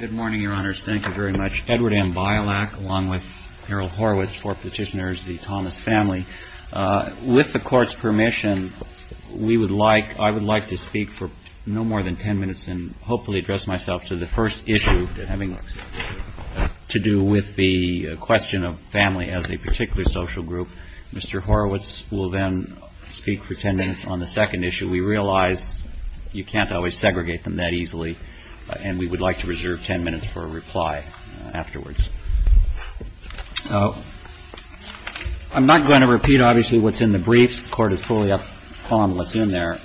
Good morning, Your Honors. Thank you very much. Edward M. Bialak, along with Harold Horowitz, four petitioners, the Thomas family. With the Court's permission, we would like, I would like to speak for no more than ten minutes and hopefully address myself to the first issue having to do with the question of family as a particular social group. Mr. Horowitz will then speak for ten minutes on the second issue. We realize you can't always segregate them that easily, and we would like to reserve ten minutes for a reply afterwards. I'm not going to repeat, obviously, what's in the briefs. The Court is fully up on what's in there.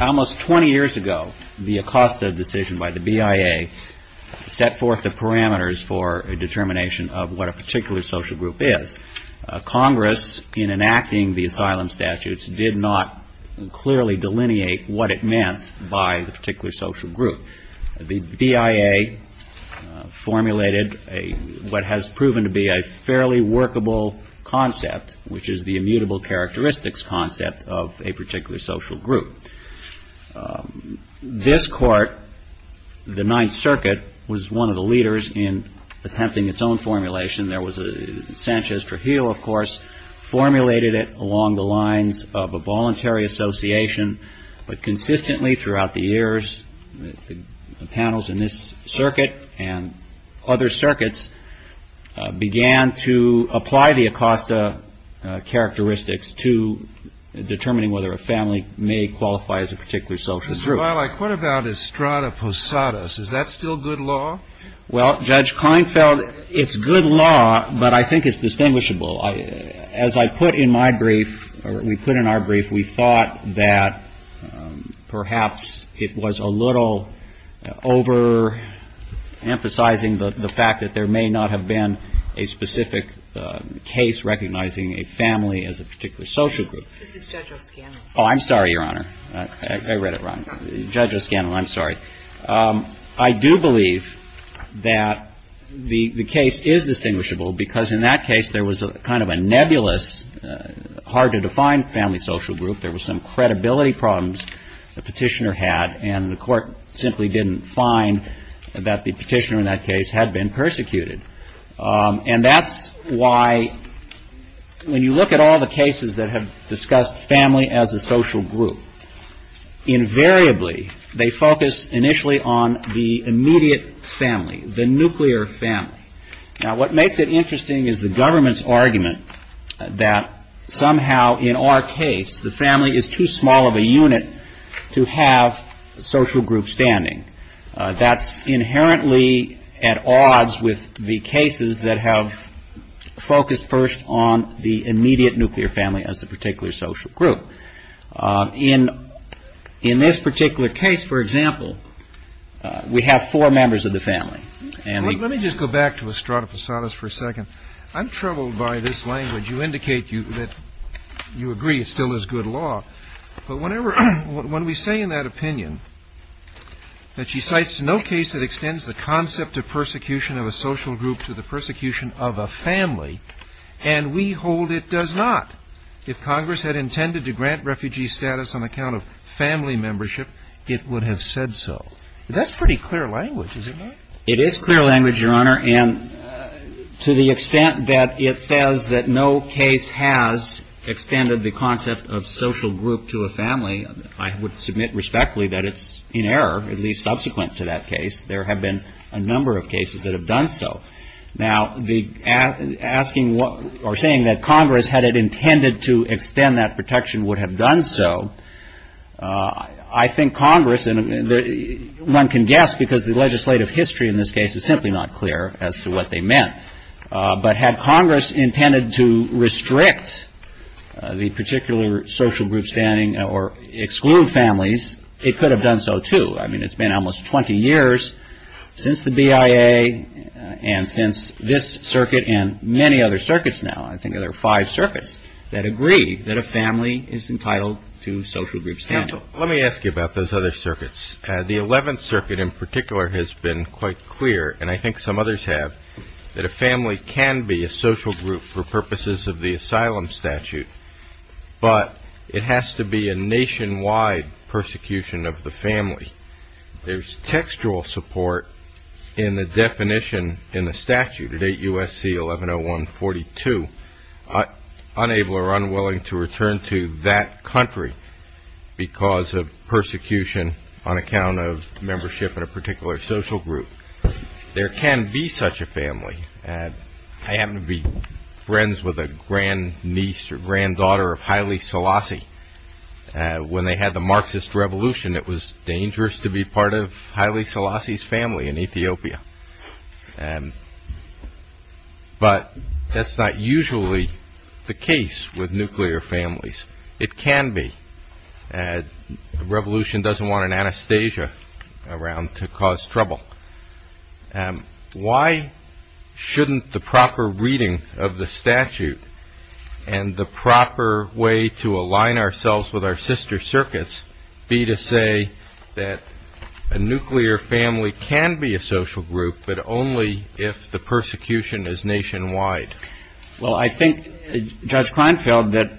Almost twenty years ago, the Acosta decision by the BIA set forth the parameters for a determination of what a particular social group is. Congress, in enacting the asylum by a particular social group, the BIA formulated what has proven to be a fairly workable concept, which is the immutable characteristics concept of a particular social group. This Court, the Ninth Circuit, was one of the leaders in attempting its own formulation. There was a, Sanchez-Trahil, of course, formulated it along the lines of a voluntary association, but consistently throughout the years, panels in this circuit and other circuits began to apply the Acosta characteristics to determining whether a family may qualify as a particular social group. Mr. Wiley, what about Estrada Posadas? Is that still good law? Well, Judge Kleinfeld, it's good law, but I think it's distinguishable. As I put in my brief, or we put in our brief, we thought that perhaps it was a little over-emphasizing the fact that there may not have been a specific case recognizing a family as a particular social group. This is Judge O'Scannon. Oh, I'm sorry, Your Honor. I read it wrong. Judge O'Scannon, I'm sorry. I do believe that the case is distinguishable, because in that case, there was a kind of a nebulous, hard-to-define concept of a family. Family social group. There was some credibility problems the petitioner had, and the court simply didn't find that the petitioner in that case had been persecuted. And that's why, when you look at all the cases that have discussed family as a social group, invariably, they focus initially on the immediate family, the nuclear family. Now, what makes it interesting is the government's argument that somehow, in our case, the family is too small of a unit to have a social group standing. That's inherently at odds with the cases that have focused first on the immediate nuclear family as a particular social group. In this particular case, for example, we have four members of the family. Let me just go back to Estrada Posadas for a second. I'm troubled by this language. You indicate that you agree it still is good law. But when we say in that opinion that she cites no case that extends the concept of persecution of a social group to the persecution of a family, and we hold it does not, if Congress had intended to grant refugee status on account of family membership, it would have said so. That's pretty clear language, is it not? It is clear language, Your Honor, and to the extent that it says that no case has extended the concept of social group to a family, I would submit respectfully that it's in error, at least subsequent to that case. There have been a number of cases that have done so. Now, asking or saying that Congress, had it intended to extend that protection, would have done so, I think Congress, and one can guess because the legislative history in this case is simply not clear as to what they meant. But had Congress intended to restrict the particular social group standing or exclude families, it could have done so, too. I mean, it's been almost 20 years since the BIA and since this circuit and many other circuits now, I think there are five circuits that agree that a family is entitled to social group standing. Let me ask you about those other circuits. The Eleventh Circuit in particular has been quite clear, and I think some others have, that a family can be a social group for purposes of the asylum statute, but it has to be a nationwide persecution of the family. There's textual support in the definition in the statute at 8 U.S.C. 11-01-42, unable or unwilling to return to that country because of persecution on account of membership in a particular social group. There can be such a family. I happen to be friends with a grandniece or granddaughter of Haile Selassie. When they had the Marxist Revolution, it was dangerous to be part of Haile Selassie's family in Ethiopia. But that's not usually the case with nuclear families. It can be. The Revolution doesn't want an Anastasia around to cause trouble. Why shouldn't the proper reading of the statute and the proper way to align ourselves with our sister circuits be to say that a nuclear family can be a social group for but only if the persecution is nationwide? Well, I think, Judge Kleinfeld, that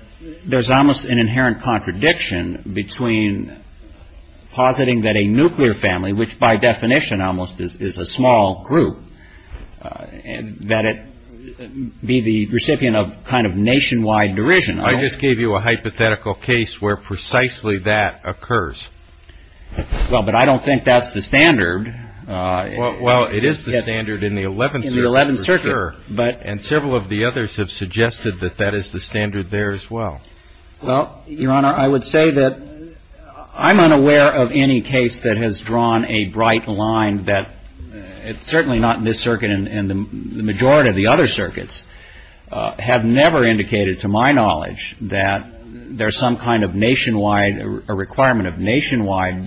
there's almost an inherent contradiction between positing that a nuclear family, which by definition almost is a small group, that it be the recipient of kind of nationwide derision. I just gave you a hypothetical case where precisely that occurs. Well, but I don't think that's the standard. Well, it is the standard in the Eleventh Circuit for sure. And several of the others have suggested that that is the standard there as well. Well, Your Honor, I would say that I'm unaware of any case that has drawn a bright line that it's certainly not in this nationwide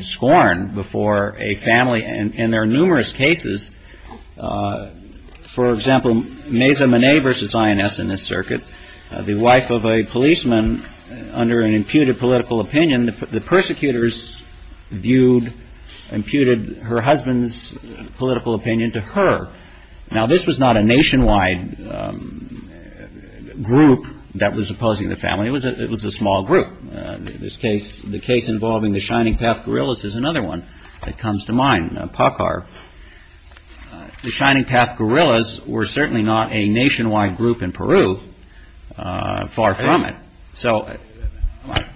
scorn before a family. And there are numerous cases. For example, Meza Menei v. INS in this circuit, the wife of a policeman under an imputed political opinion, the persecutors viewed, imputed her husband's political opinion to her. Now, this was not a nationwide group that was opposing the family. It was a small group. This case, the case involving the Shining Path guerrillas is another one that comes to mind, PACAR. The Shining Path guerrillas were certainly not a nationwide group in Peru, far from it. So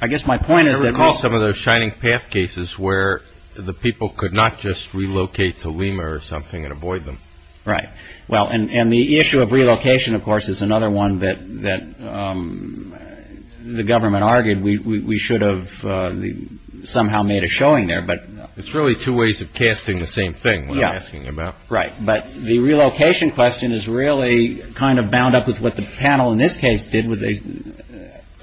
I guess my point is that... I recall some of those Shining Path cases where the people could not just relocate to Lima or something and avoid them. Right. Well, and the issue of relocation, of course, is another one that the government argued. We should have somehow made a showing there, but... It's really two ways of casting the same thing, what I'm asking about. Right. But the relocation question is really kind of bound up with what the panel in this case did, where they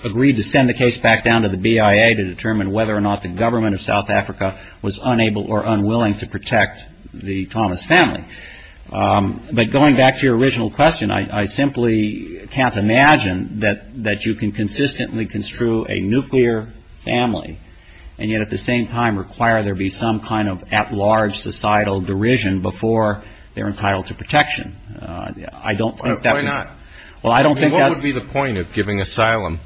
agreed to send the case back down to the BIA to determine whether or not the government of South Africa was unable or unwilling to protect the Thomas family. But going back to your original question, I simply can't imagine that you can consistently construe a nuclear family and yet at the same time require there be some kind of at-large societal derision before they're entitled to protection. I don't think that... Why not? What would be the point of giving asylum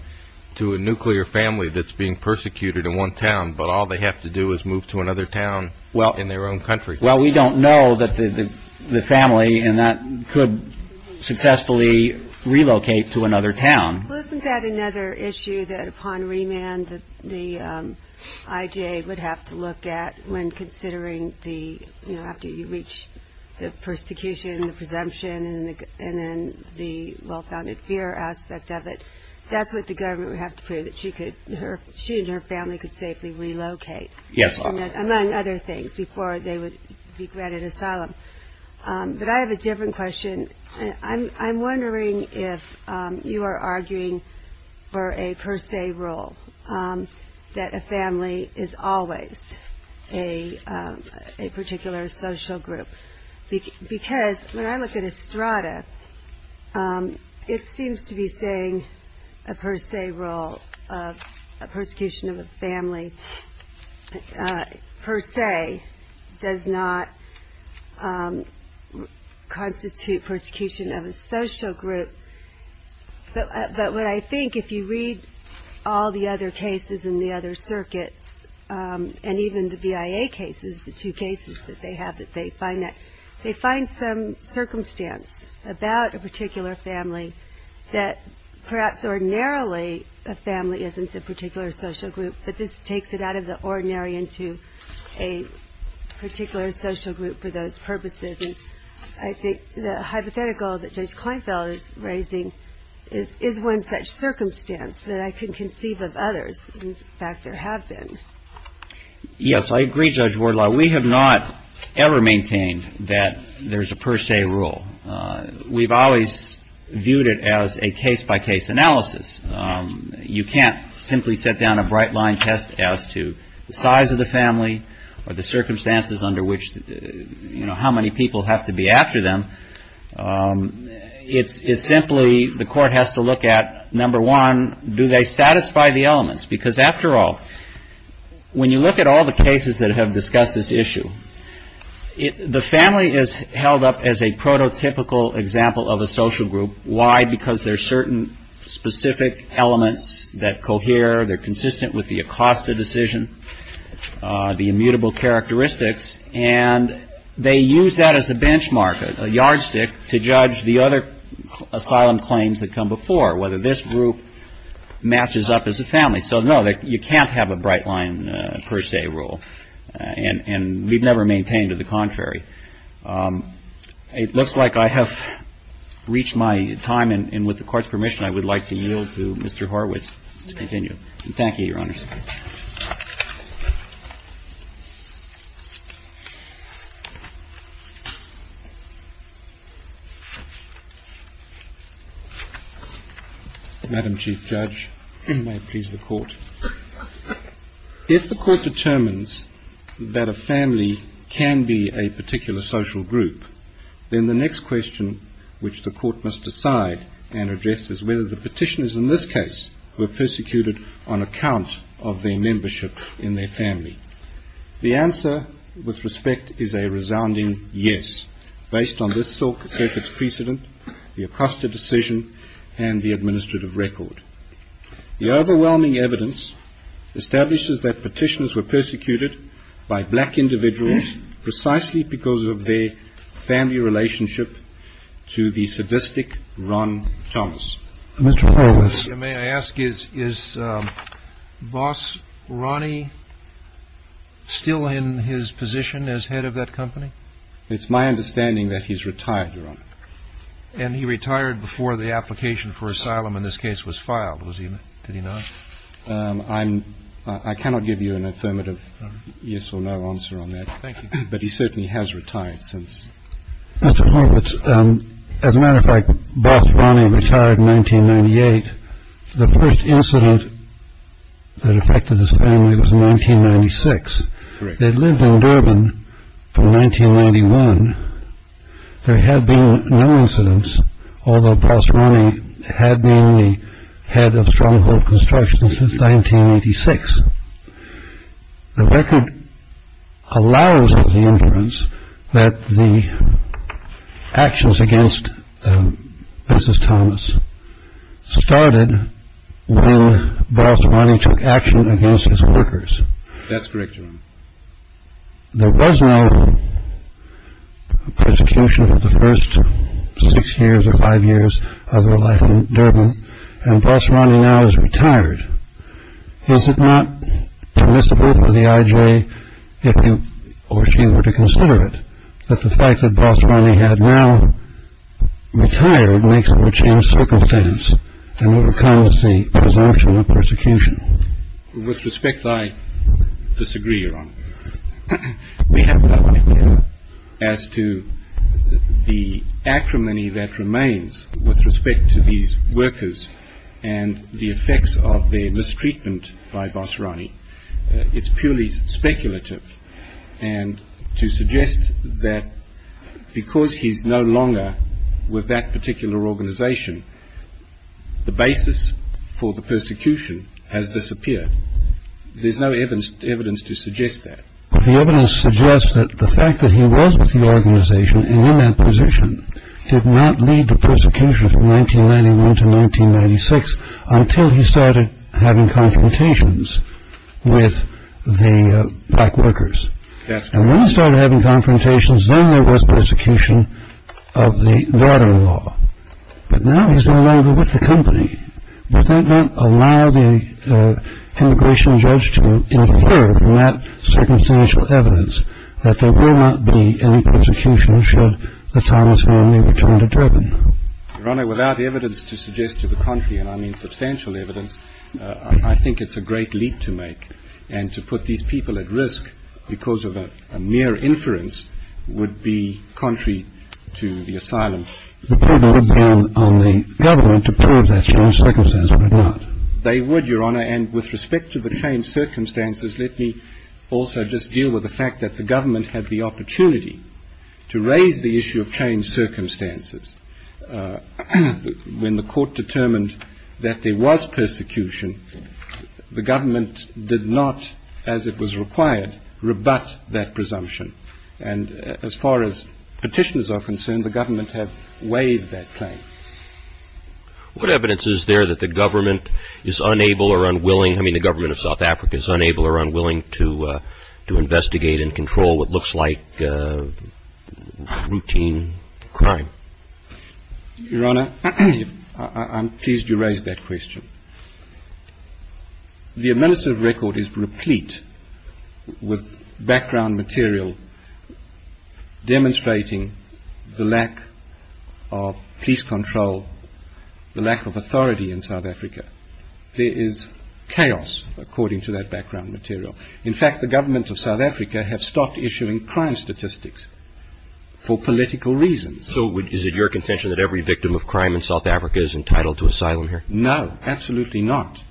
to a nuclear family that's being persecuted in one town, but all they have to do is move to another town in their own country? Well, we don't know that the family could successfully relocate to another town. Well, isn't that another issue that upon remand the IGA would have to look at when considering the... After you reach the persecution, the presumption, and then the well-founded fear aspect of it. That's what the government would have to prove, that she and her family could safely relocate among other things before they would be granted asylum. But I have a different question. I'm wondering if you are arguing for a per se rule that a family is always a particular social group. Because when I look at Estrada, it seems to be saying a per se rule of a persecution of a family per se does not constitute persecution of a social group. But what I think, if you read all the other cases in the other circuits, and even the BIA cases, the two cases that they have, they find some circumstance about a particular family that perhaps ordinarily a family isn't a particular social group, but this takes it out of the ordinary into a particular social group for those purposes. And I think the hypothetical that Judge Kleinfeld is raising is one such circumstance that I can conceive of others. In fact, there have been. I've never maintained that there's a per se rule. We've always viewed it as a case-by-case analysis. You can't simply set down a bright-line test as to the size of the family or the circumstances under which, you know, how many people have to be after them. It's simply the court has to look at, number one, do they satisfy the elements? Because after all, when you look at all the cases that have discussed this issue, the family is held up as a prototypical example of a social group. Why? Because there are certain specific elements that cohere. They're consistent with the Acosta decision, the immutable characteristics. And they use that as a benchmark, a yardstick, to judge the other asylum claims that come before, whether this group matches up as a family. So, no, you can't have a bright-line per se rule. And we've never maintained the contrary. It looks like I have reached my time, and with the Court's permission, I would like to yield to Mr. Horwitz to continue. Thank you, Your Honors. Madam Chief Judge, may it please the Court. If the Court determines that a family can be a particular social group, then the next question which the Court must decide and address is whether the family is a particular social group. The answer, with respect, is a resounding yes, based on this circuit's precedent, the Acosta decision, and the administrative record. The overwhelming evidence establishes that petitions were persecuted by black individuals precisely because of their family relationship to the sadistic Ron Thomas. Mr. Horwitz. May I ask, is Boss Ronnie still in his position as head of that company? It's my understanding that he's retired, Your Honor. And he retired before the application for asylum in this case was filed, did he not? I cannot give you an affirmative yes or no answer on that. But he certainly has retired since. Mr. Horwitz, as a matter of fact, Boss Ronnie retired in 1998. The first incident that affected his family was in 1996. They'd lived in Durban from 1991. There had been no incidents, although Boss Ronnie had been the head of Stronghold Construction since 1986. The record allows the inference that the actions against Mrs. Thomas started when Boss Ronnie took action against his workers. That's correct, Your Honor. There was no persecution for the first six years or five years of their life in Durban. And Boss Ronnie now is retired. Is it not admissible for the IJ, if you were to consider it, that the fact that Boss Ronnie had now retired makes for a changed circumstance in what becomes the presumption of persecution? With respect, I disagree, Your Honor. We have no idea as to the acrimony that remains with respect to these workers and the effects of their mistreatment by Boss Ronnie. It's purely speculative. And to suggest that because he's no longer with that particular organization, the basis for the persecution has disappeared. There's no evidence to suggest that. But the evidence suggests that the fact that he was with the organization and in that position did not lead to persecution from 1991 to 1996 until he started having confrontations with the black workers. That's right. And when he started having confrontations, then there was persecution of the daughter-in-law. But now he's no longer with the company. Does that not allow the immigration judge to infer from that circumstantial evidence that there will not be any persecution should the Thomas Manley return to Durban? Your Honor, without evidence to suggest to the country, and I mean substantial evidence, I think it's a great leap to make. And to put these people at risk because of a mere inference would be contrary to the asylum. Would the poor man on the government approve of that change of circumstances or not? They would, Your Honor. And with respect to the changed circumstances, let me also just deal with the fact that the government had the opportunity to raise the issue of changed circumstances. When the court determined that there was persecution, the government did not, as it was required, rebut that presumption. And as far as petitions are concerned, the government has waived that claim. What evidence is there that the government is unable or unwilling, I mean the government of South Africa, is unable or unwilling to investigate and control what looks like routine crime? Your Honor, I'm pleased you raised that question. The administrative record is replete with background material demonstrating the lack of police control, the lack of authority in South Africa. There is chaos according to that background material. In fact, the governments of South Africa have stopped issuing crime statistics for political reasons. So is it your contention that every victim of crime in South Africa is entitled to asylum here? No, absolutely not.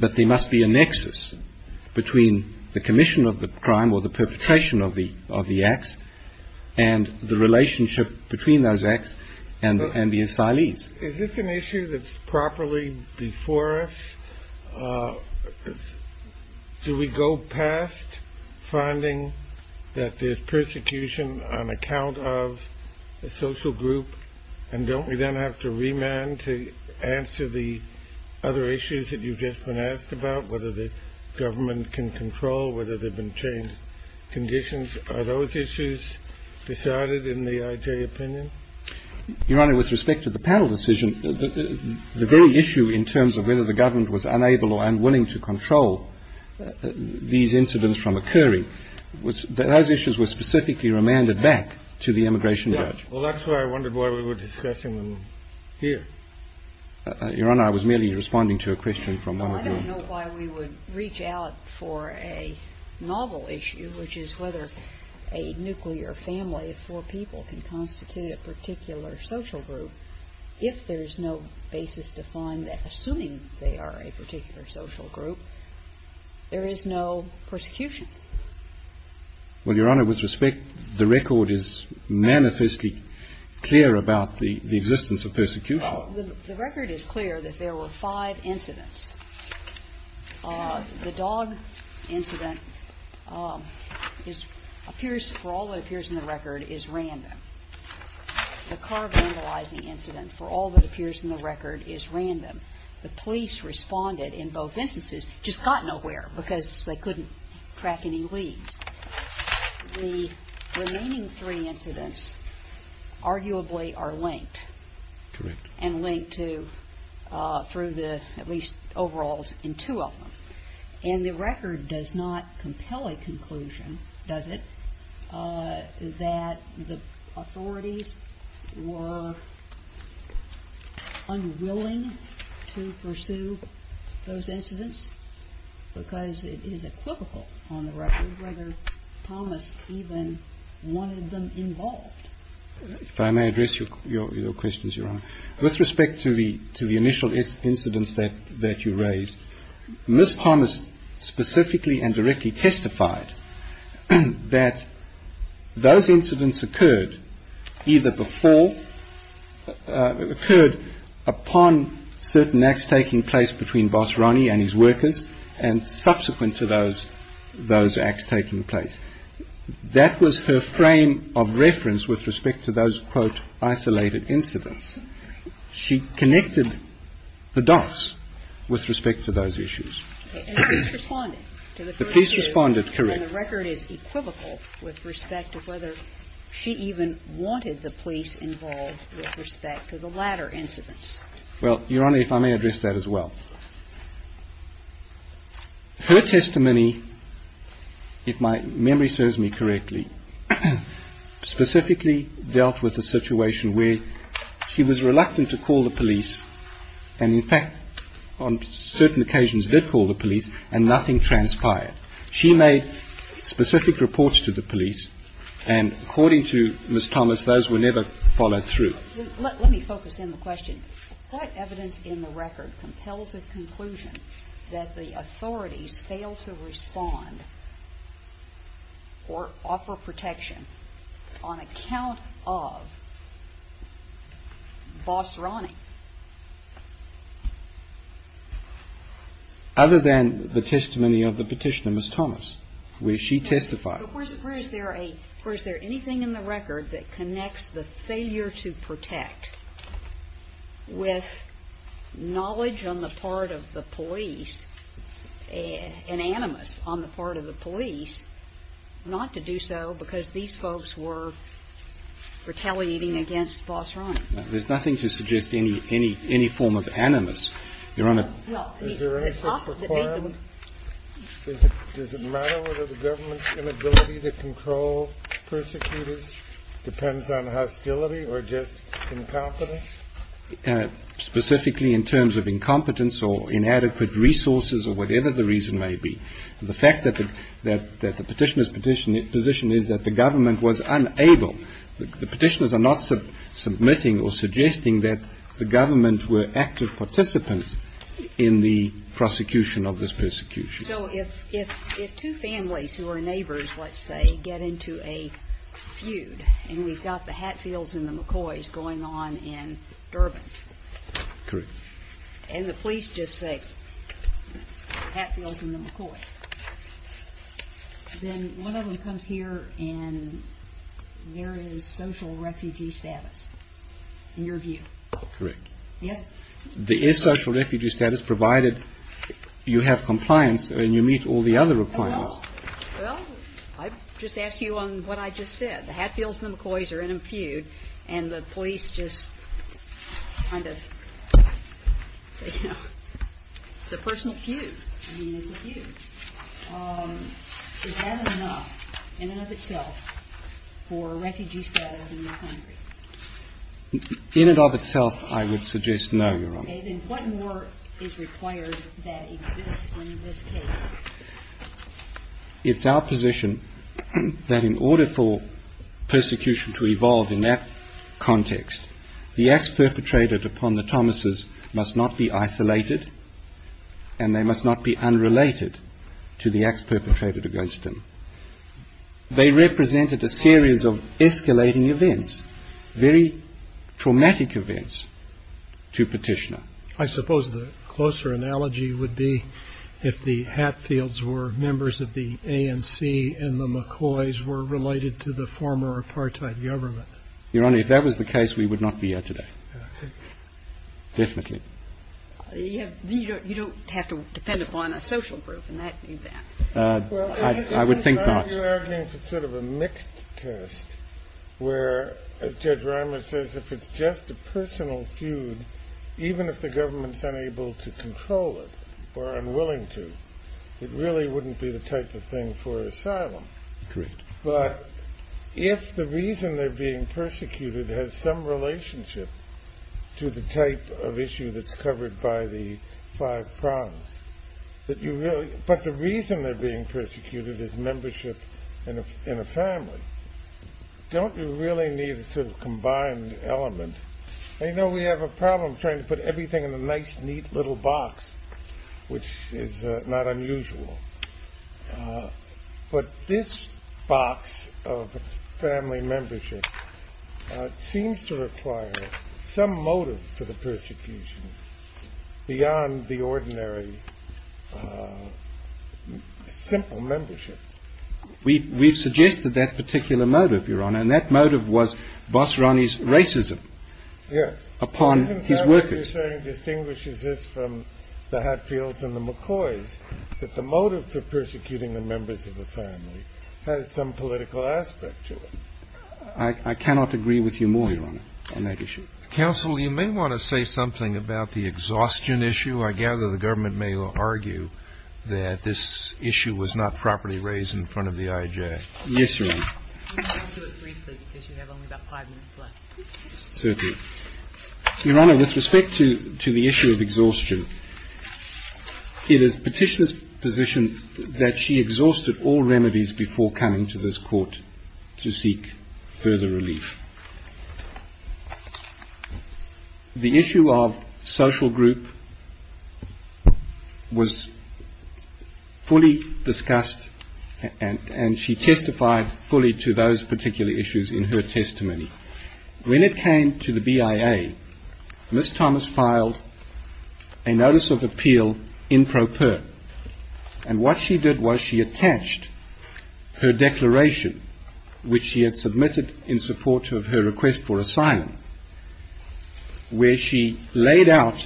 But there must be a nexus between the commission of the crime or the perpetration of the acts and the relationship between those acts and the asylees. Is this an issue that's properly before us? Do we go past finding that there's persecution on account of a social group? And don't we then have to remand to answer the other issues that you've just been asked about, whether the government can control, whether there have been changed conditions? Are those issues decided in the IJ opinion? Your Honor, with respect to the panel decision, the very issue in terms of whether the government was unable or unwilling to control these incidents from occurring, those issues were specifically remanded back to the immigration judge. Well, that's why I wondered why we were discussing them here. Your Honor, I was merely responding to a question from one of your... Well, I don't know why we would reach out for a novel issue, which is whether a nuclear family of four people can constitute a particular social group if there is no basis to find that, assuming they are a particular social group, there is no persecution. Well, Your Honor, with respect, the record is manifestly clear about the existence of persecution. The record is clear that there were five incidents. The dog incident appears, for all that appears in the record, is random. The car vandalizing incident, for all that appears in the record, is random. The police responded in both instances, just got nowhere because they couldn't track any leads. The remaining three incidents arguably are linked. Correct. And linked to, through the, at least, overalls in two of them. And the record does not compel a conclusion, does it, that the authorities were unwilling to pursue those incidents because it is equivocal on the record whether Thomas even wanted them involved. If I may address your questions, Your Honor. With respect to the initial incidents that you raised, Ms. Thomas specifically and directly testified that those incidents occurred either before, occurred upon certain acts taking place between Boss Ronnie and his workers and subsequent to those acts taking place. That was her frame of reference with respect to those, quote, isolated incidents. She connected the dots with respect to those issues. And the police responded to the first two. The police responded, correct. And the record is equivocal with respect to whether she even wanted the police involved with respect to the latter incidents. Well, Your Honor, if I may address that as well. Her testimony, if my memory serves me correctly, specifically dealt with a situation where she was reluctant to call the police and, in fact, on certain occasions did call the police and nothing transpired. She made specific reports to the police. And according to Ms. Thomas, those were never followed through. Let me focus in the question. What evidence in the record compels the conclusion that the authorities failed to respond or offer protection on account of Boss Ronnie? Other than the testimony of the petitioner, Ms. Thomas, where she testified. Where is there anything in the record that connects the failure to protect with knowledge on the part of the police, an animus on the part of the police, not to do so because these folks were retaliating against Boss Ronnie? There's nothing to suggest any form of animus, Your Honor. Is there any sort of requirement? Does it matter whether the government's inability to control persecutors depends on hostility or just incompetence? Specifically in terms of incompetence or inadequate resources or whatever the reason may be. The fact that the petitioner's position is that the government was unable. The petitioners are not submitting or suggesting that the government were active participants in the prosecution of this persecution. So if two families who are neighbors, let's say, get into a feud and we've got the Hatfields and the McCoys going on in Durban. Correct. And the police just say, Hatfields and the McCoys. Then one of them comes here and there is social refugee status, in your view. Correct. Yes? There is social refugee status provided you have compliance and you meet all the other requirements. Well, I just asked you on what I just said. The Hatfields and the McCoys are in a feud and the police just kind of, you know, it's a personal feud. I mean, it's a feud. Is that enough in and of itself for refugee status in this country? In and of itself, I would suggest no, Your Honor. Okay, then what more is required that exists in this case? It's our position that in order for persecution to evolve in that context, the acts perpetrated upon the Thomases must not be isolated and they must not be unrelated to the acts perpetrated against them. They represented a series of escalating events, very traumatic events to petitioner. I suppose the closer analogy would be if the Hatfields were members of the ANC and the McCoys were related to the former apartheid government. Your Honor, if that was the case, we would not be here today. Definitely. You don't have to depend upon a social group in that event. I would think not. You're arguing for sort of a mixed test where, as Judge Reimer says, if it's just a personal feud, even if the government's unable to control it or unwilling to, it really wouldn't be the type of thing for asylum. Correct. But if the reason they're being persecuted has some relationship to the type of issue that's covered by the five prongs, but the reason they're being persecuted is membership in a family, don't you really need a sort of combined element? I know we have a problem trying to put everything in a nice, neat little box, which is not unusual, but this box of family membership seems to require some motive for the persecution beyond the ordinary simple membership. We've suggested that particular motive, Your Honor, and that motive was Boss Ronnie's racism upon his workers. What you're saying distinguishes this from the Hatfields and the McCoys, that the motive for persecuting the members of the family has some political aspect to it. I cannot agree with you more, Your Honor, on that issue. Counsel, you may want to say something about the exhaustion issue. I gather the government may argue that this issue was not properly raised in front of the IJA. Yes, Your Honor. I'll do it briefly because you have only about five minutes left. Certainly. Your Honor, with respect to the issue of exhaustion, it is the petitioner's position that she exhausted all remedies before coming to this court to seek further relief. The issue of social group was fully discussed and she testified fully to those particular issues in her testimony. When it came to the BIA, Ms. Thomas filed a notice of appeal in pro per, and what she did was she attached her declaration, which she had submitted in support of her request for asylum, where she laid out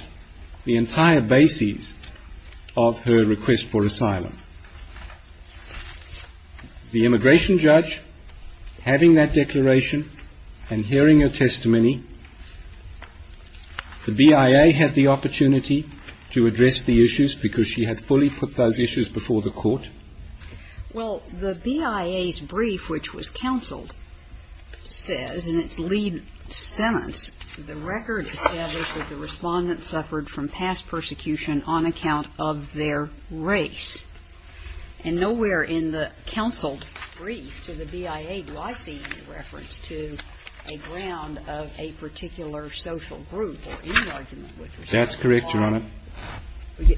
the entire basis of her request for asylum. The immigration judge, having that declaration and hearing her testimony, the BIA had the opportunity to address the issues because she had fully put those issues before the court. Well, the BIA's brief, which was counseled, says in its lead sentence, the record established that the Respondent suffered from past persecution on account of their race. And nowhere in the counseled brief to the BIA do I see any reference to a ground of a particular social group or any argument. That's correct, Your Honor.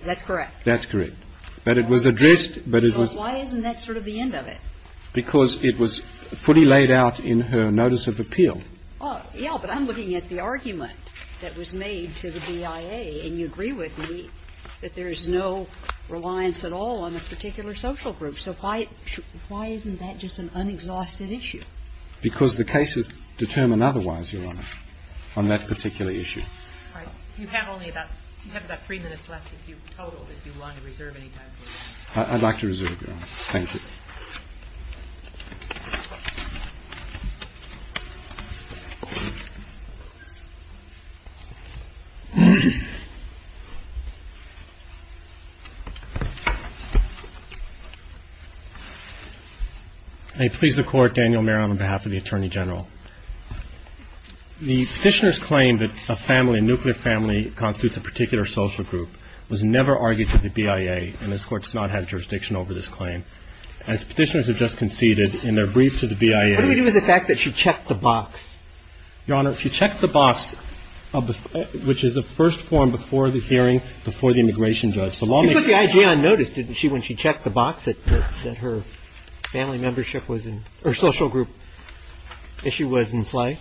That's correct. That's correct. But it was addressed, but it was... Why isn't that sort of the end of it? Because it was fully laid out in her notice of appeal. Well, yes, but I'm looking at the argument that was made to the BIA, and you agree with me that there's no reliance at all on a particular social group. So why isn't that just an unexhausted issue? Because the cases determine otherwise, Your Honor, on that particular issue. All right. You have only about, you have about three minutes left if you total, if you want to reserve any time for that. I'd like to reserve, Your Honor. Thank you. I please the Court, Daniel Mayer, on behalf of the Attorney General. The petitioner's claim that a family, a nuclear family constitutes a particular social group was never argued to the BIA, and this Court does not have jurisdiction over this claim. As Petitioners have just conceded in their brief to the BIA... What do we do with the fact that she checked the box? Your Honor, she checked the box, which is the first form before the hearing, before the immigration judge. She put the I.J. on notice, didn't she, when she checked the box that her family membership was in, or social group issue was in play?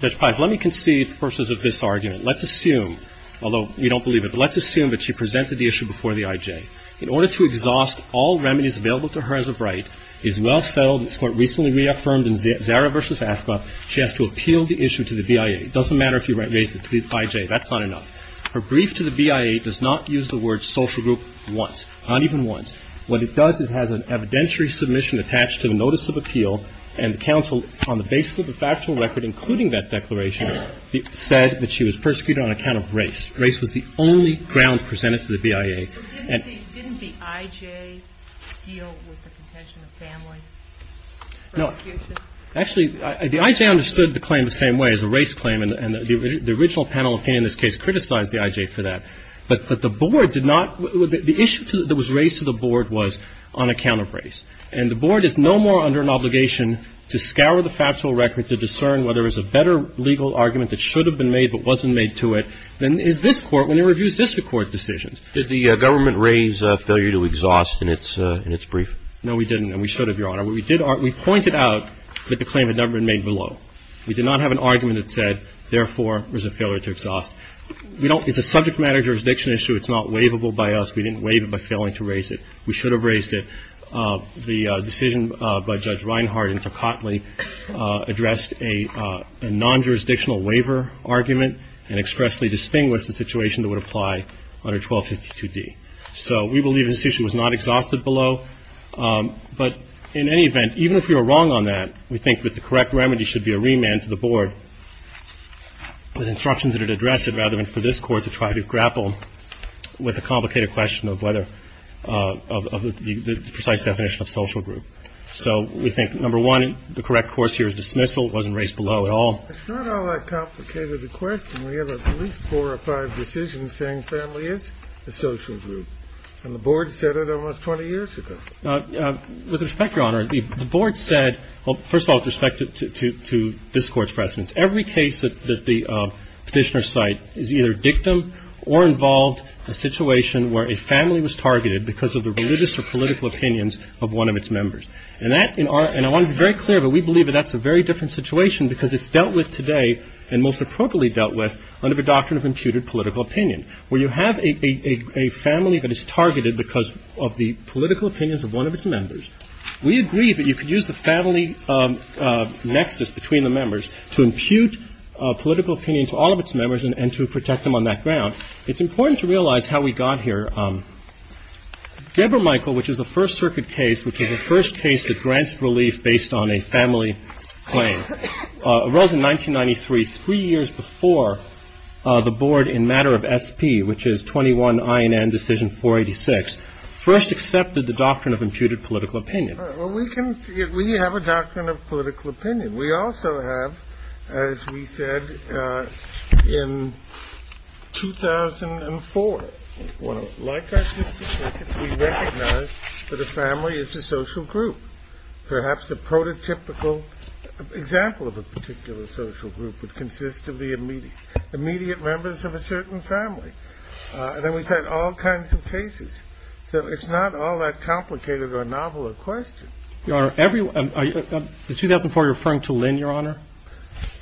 Judge Price, let me concede the purposes of this argument. Let's assume, although we don't believe it, but let's assume that she presented the issue before the I.J. In order to exhaust all remedies available to her as of right, it's well settled, and it's quite recently reaffirmed in Zara v. Askoff, she has to appeal the issue to the BIA. It doesn't matter if you raise it to the I.J. That's not enough. Her brief to the BIA does not use the word social group once, not even once. What it does, it has an evidentiary submission attached to the notice of appeal, and the counsel, on the basis of the factual record including that declaration, said that she was persecuted on account of race. Race was the only ground presented to the BIA. Didn't the I.J. deal with the contention of family persecution? No. Actually, the I.J. understood the claim the same way as the race claim, and the original panel opinion in this case criticized the I.J. for that. But the board did not – the issue that was raised to the board was on account of race. And the board is no more under an obligation to scour the factual record to discern whether there was a better legal argument that should have been made but wasn't made to it than is this Court when it reviews district court decisions. Did the government raise failure to exhaust in its brief? No, we didn't, and we should have, Your Honor. We did – we pointed out that the claim had never been made below. We did not have an argument that said, therefore, there's a failure to exhaust. We don't – it's a subject matter jurisdiction issue. It's not waivable by us. We didn't waive it by failing to raise it. We should have raised it. The decision by Judge Reinhart and Tocatli addressed a non-jurisdictional waiver argument and expressly distinguished the situation that would apply under 1252d. So we believe this issue was not exhausted below. But in any event, even if we were wrong on that, we think that the correct remedy should be a remand to the board with instructions that it addressed rather than for this Court to try to grapple with a complicated question of whether – of the precise definition of social group. So we think, number one, the correct course here is dismissal. It wasn't raised below at all. It's not all that complicated a question. We have at least four or five decisions saying family is a social group. And the board said it almost 20 years ago. With respect, Your Honor, the board said – well, first of all, with respect to this Court's precedence. Every case that the Petitioner cite is either dictum or involved a situation where a family was targeted because of the religious or political opinions of one of its members. And that – and I want to be very clear, but we believe that that's a very different situation because it's dealt with today and most appropriately dealt with under the doctrine of imputed political opinion, where you have a family that is targeted because of the political opinions of one of its members. We agree that you could use the family nexus between the members to impute political opinions to all of its members and to protect them on that ground. It's important to realize how we got here. Deborah Michael, which is a First Circuit case, which is the first case that grants relief based on a family claim, arose in 1993, three years before the board in matter of SP, which is 21 INN Decision 486, first accepted the doctrine of imputed political opinion. Well, we can – we have a doctrine of political opinion. We also have, as we said, in 2004. Like our system, we recognize that a family is a social group. Perhaps a prototypical example of a particular social group would consist of the immediate members of a certain family. And then we've had all kinds of cases. So it's not all that complicated or novel a question. Your Honor, every – is 2004 referring to Lynn, Your Honor?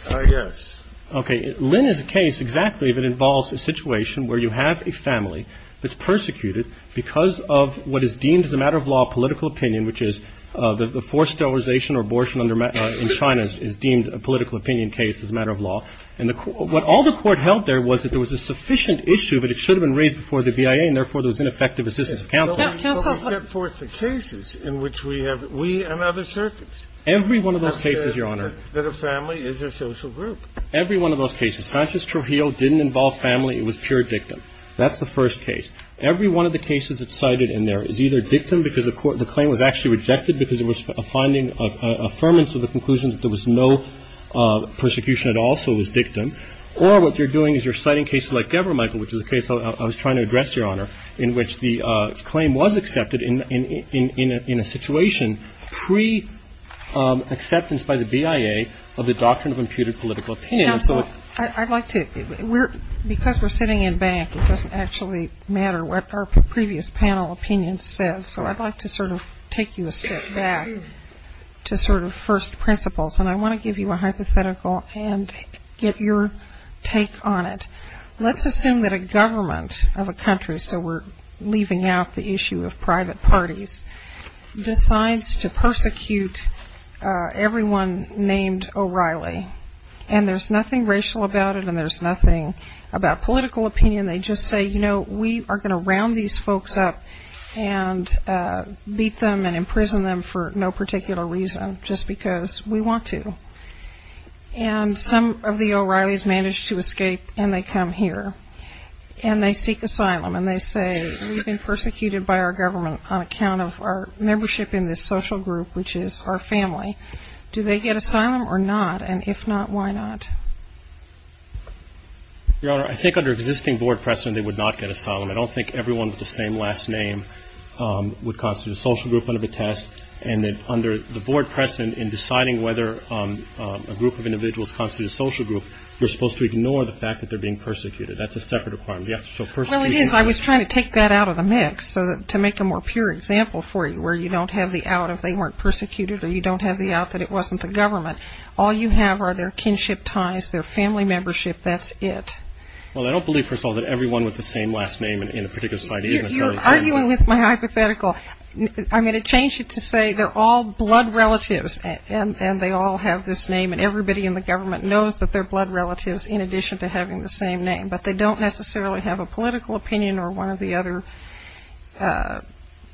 Yes. Okay. Lynn is a case exactly that involves a situation where you have a family that's persecuted because of what is deemed as a matter of law political opinion, which is the forced sterilization or abortion in China is deemed a political opinion case as a matter of law. And the – what all the Court held there was that there was a sufficient issue, but it should have been raised before the BIA, and therefore there was ineffective assistance of counsel. But we set forth the cases in which we have – we and other circuits have said that a family is a social group. Every one of those cases, Sanchez-Trujillo didn't involve family. It was pure dictum. That's the first case. Every one of the cases that's cited in there is either dictum because the Court – the claim was actually rejected because it was a finding – an affirmance of the conclusion that there was no persecution at all, so it was dictum. Or what you're doing is you're citing cases like Gebermichael, which is a case I was trying to address, Your Honor, in which the claim was accepted in a situation pre-acceptance by the BIA of the doctrine of imputed political opinion. And so I'd like to – because we're sitting in back, it doesn't actually matter what our previous panel opinion says, so I'd like to sort of take you a step back to sort of first principles. And I want to give you a hypothetical and get your take on it. Let's assume that a government of a country – so we're leaving out the issue of private parties – decides to persecute everyone named O'Reilly. And there's nothing racial about it and there's nothing about political opinion. They just say, you know, we are going to round these folks up and beat them and imprison them for no particular reason, just because we want to. And some of the O'Reillys manage to escape and they come here. And they seek asylum. And they say, we've been persecuted by our government on account of our membership in this social group, which is our family. Do they get asylum or not? And if not, why not? Your Honor, I think under existing board precedent they would not get asylum. I don't think everyone with the same last name would constitute a social group under the test. And under the board precedent in deciding whether a group of individuals constitutes a social group, you're supposed to ignore the fact that they're being persecuted. That's a separate requirement. You have to show persecution. Well, it is. I was trying to take that out of the mix to make a more pure example for you, where you don't have the out if they weren't persecuted or you don't have the out that it wasn't the government. All you have are their kinship ties, their family membership. That's it. Well, I don't believe, first of all, that everyone with the same last name in a particular society is a social group. You're arguing with my hypothetical. I'm going to change it to say they're all blood relatives and they all have this name. And everybody in the government knows that they're blood relatives in addition to having the same name. But they don't necessarily have a political opinion or one of the other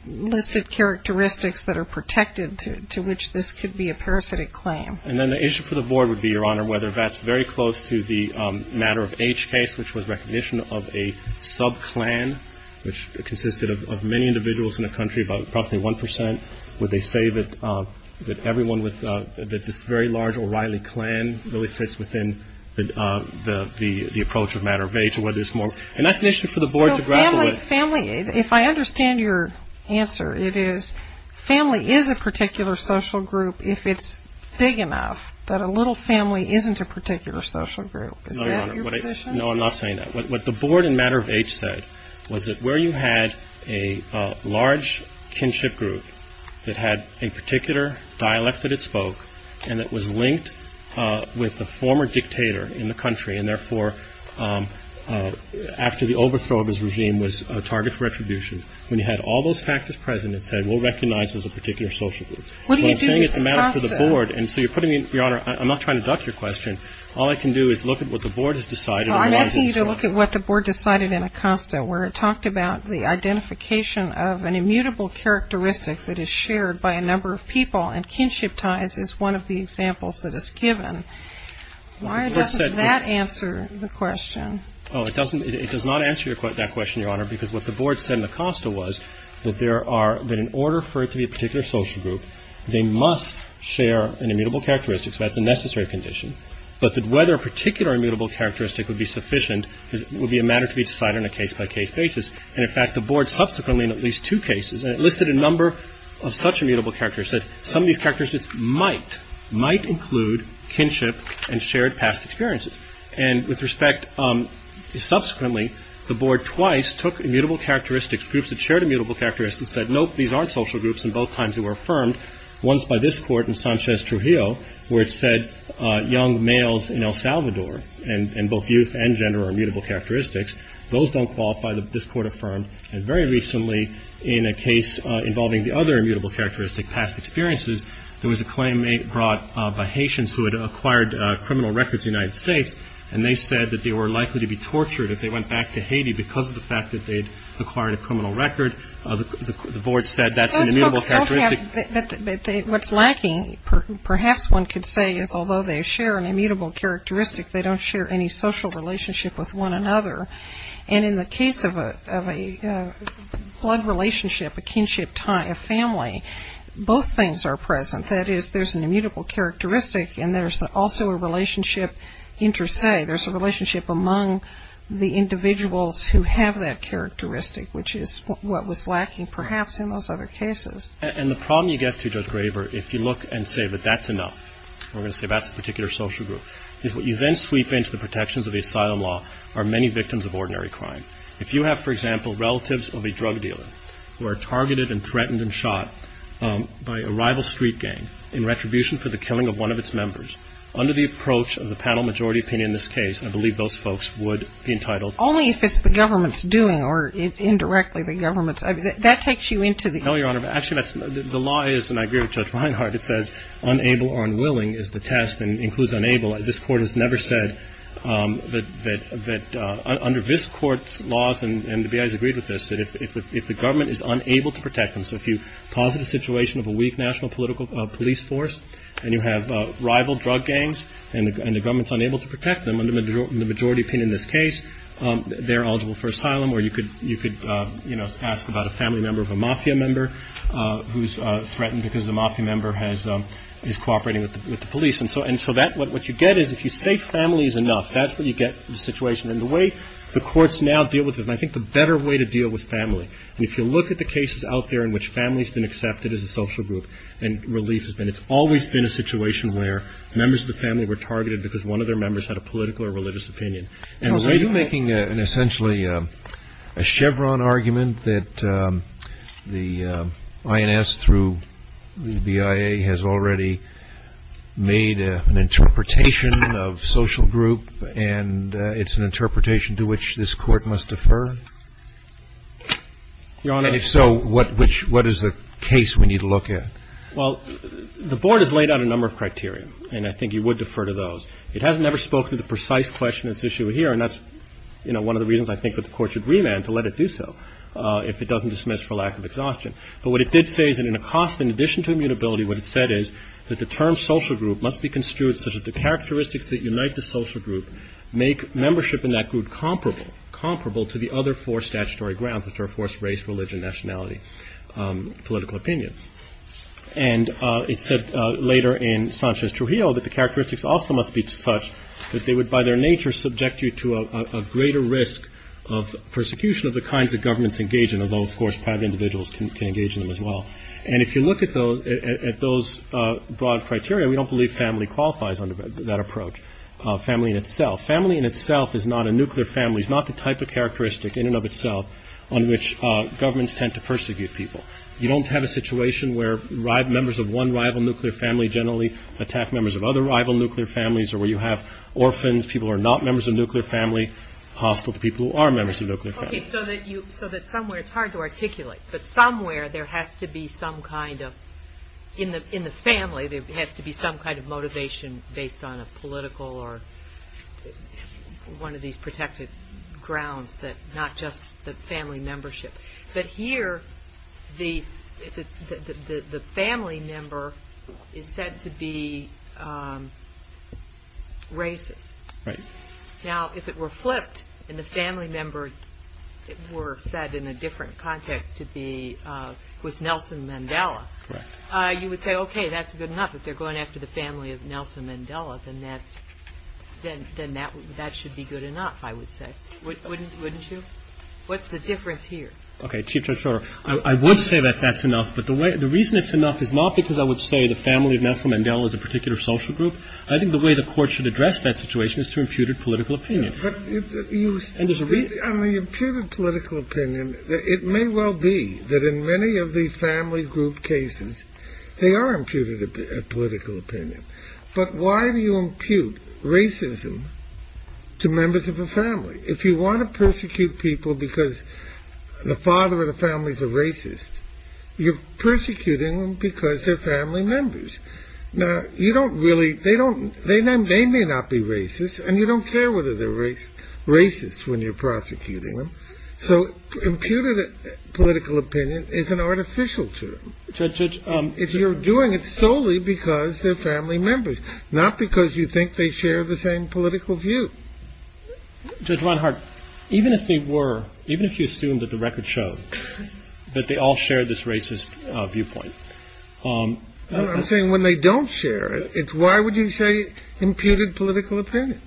listed characteristics that are protected to which this could be a parasitic claim. And then the issue for the board would be, Your Honor, whether that's very close to the matter of H case, which was recognition of a sub-clan, which consisted of many individuals in the country, about approximately 1 percent. Would they say that everyone with this very large O'Reilly clan really fits within the approach of matter of H? And that's an issue for the board to grapple with. Family, if I understand your answer, it is family is a particular social group if it's big enough that a little family isn't a particular social group. Is that your position? No, Your Honor. No, I'm not saying that. What the board in matter of H said was that where you had a large kinship group that had a particular dialect that it spoke and it was linked with the former dictator in the country after the overthrow of his regime was a target for retribution, when you had all those factors present, it said we'll recognize it as a particular social group. What are you doing with Acosta? Well, I'm saying it's a matter for the board. And so you're putting me, Your Honor, I'm not trying to duck your question. All I can do is look at what the board has decided. Well, I'm asking you to look at what the board decided in Acosta, where it talked about the identification of an immutable characteristic that is shared by a number of people, and kinship ties is one of the examples that is given. Why doesn't that answer the question? Oh, it doesn't. It does not answer that question, Your Honor, because what the board said in Acosta was that there are, that in order for it to be a particular social group, they must share an immutable characteristic. So that's a necessary condition. But that whether a particular immutable characteristic would be sufficient would be a matter to be decided on a case-by-case basis. And, in fact, the board subsequently in at least two cases listed a number of such past experiences. And with respect, subsequently, the board twice took immutable characteristics, groups that shared immutable characteristics, and said, nope, these aren't social groups, and both times they were affirmed, once by this Court in Sanchez Trujillo, where it said young males in El Salvador and both youth and gender are immutable characteristics. Those don't qualify. This Court affirmed. And very recently, in a case involving the other immutable characteristic, past experiences, there was a claim brought by Haitians who had acquired criminal records in the United States, and they said that they were likely to be tortured if they went back to Haiti because of the fact that they'd acquired a criminal record. The board said that's an immutable characteristic. But what's lacking, perhaps one could say, is although they share an immutable characteristic, they don't share any social relationship with one another. And in the case of a blood relationship, a kinship, a family, both things are present. That is, there's an immutable characteristic, and there's also a relationship inter se. There's a relationship among the individuals who have that characteristic, which is what was lacking, perhaps, in those other cases. And the problem you get to, Judge Graver, if you look and say that that's enough, we're going to say that's a particular social group, is what you then sweep into are many victims of ordinary crime. If you have, for example, relatives of a drug dealer who are targeted and threatened and shot by a rival street gang in retribution for the killing of one of its members, under the approach of the panel majority opinion in this case, I believe those folks would be entitled to a criminal record. Only if it's the government's doing, or indirectly the government's. That takes you into the... No, Your Honor. Actually, the law is, and I agree with Judge Reinhart, it says unable or unwilling is the test, and it includes unable. This Court has never said that under this Court's laws, and the BIA has agreed with this, that if the government is unable to protect them. So if you posit a situation of a weak national police force and you have rival drug gangs and the government's unable to protect them, under the majority opinion in this case, they're eligible for asylum. Or you could ask about a family member of a mafia member who's threatened because a mafia member is cooperating with the police. And so what you get is if you say family is enough, that's what you get in the situation. And the way the courts now deal with this, and I think the better way to deal with family, if you look at the cases out there in which families have been accepted as a social group and relief has been, it's always been a situation where members of the family were targeted because one of their members had a political or religious opinion. And were you making essentially a Chevron argument that the INS through the BIA has already made an interpretation of social group and it's an interpretation to which this Court must defer? Your Honor. And if so, what is the case we need to look at? Well, the Board has laid out a number of criteria, and I think you would defer to those. It hasn't ever spoken to the precise question that's issued here, and that's one of the reasons I think that the Court should remand to let it do so if it doesn't dismiss for lack of exhaustion. But what it did say is that in a cost in addition to immutability, what it said is that the term social group must be construed such that the characteristics that unite the social group make membership in that group comparable to the other four statutory grounds, which are, of course, race, religion, nationality, political opinion. And it said later in Sanchez Trujillo that the characteristics also must be such that they would, by their nature, subject you to a greater risk of persecution of the kinds that governments engage in, although, of course, private individuals can engage in them as well. And if you look at those broad criteria, we don't believe family qualifies under that approach, family in itself. Family in itself is not a nuclear family. It's not the type of characteristic in and of itself on which governments tend to persecute people. You don't have a situation where members of one rival nuclear family generally attack members of other rival nuclear families or where you have orphans, people who are not members of a nuclear family hostile to people who are members of a nuclear family. Okay, so that somewhere it's hard to articulate, but somewhere there has to be some kind of, in the family, there has to be some kind of motivation based on a political or one of these protected grounds that not just the family membership. But here the family member is said to be racist. Right. Now, if it were flipped and the family member were said in a different context to be with Nelson Mandela, you would say, okay, that's good enough. If they're going after the family of Nelson Mandela, then that should be good enough, I would say. Wouldn't you? What's the difference here? Okay, Chief Judge Schroeder, I would say that that's enough. But the reason it's enough is not because I would say the family of Nelson Mandela is a particular social group. I think the way the court should address that situation is through imputed political opinion. On the imputed political opinion, it may well be that in many of the family group cases they are imputed a political opinion. But why do you impute racism to members of a family? If you want to persecute people because the father of the family is a racist, you're persecuting them because they're family members. Now, you don't really they don't they may not be racist and you don't care whether they're racist when you're prosecuting them. So imputed political opinion is an artificial term. If you're doing it solely because they're family members, not because you think they share the same political view. Judge Reinhardt, even if they were, even if you assume that the record showed that they all share this racist viewpoint. I'm saying when they don't share it, it's why would you say imputed political opinion?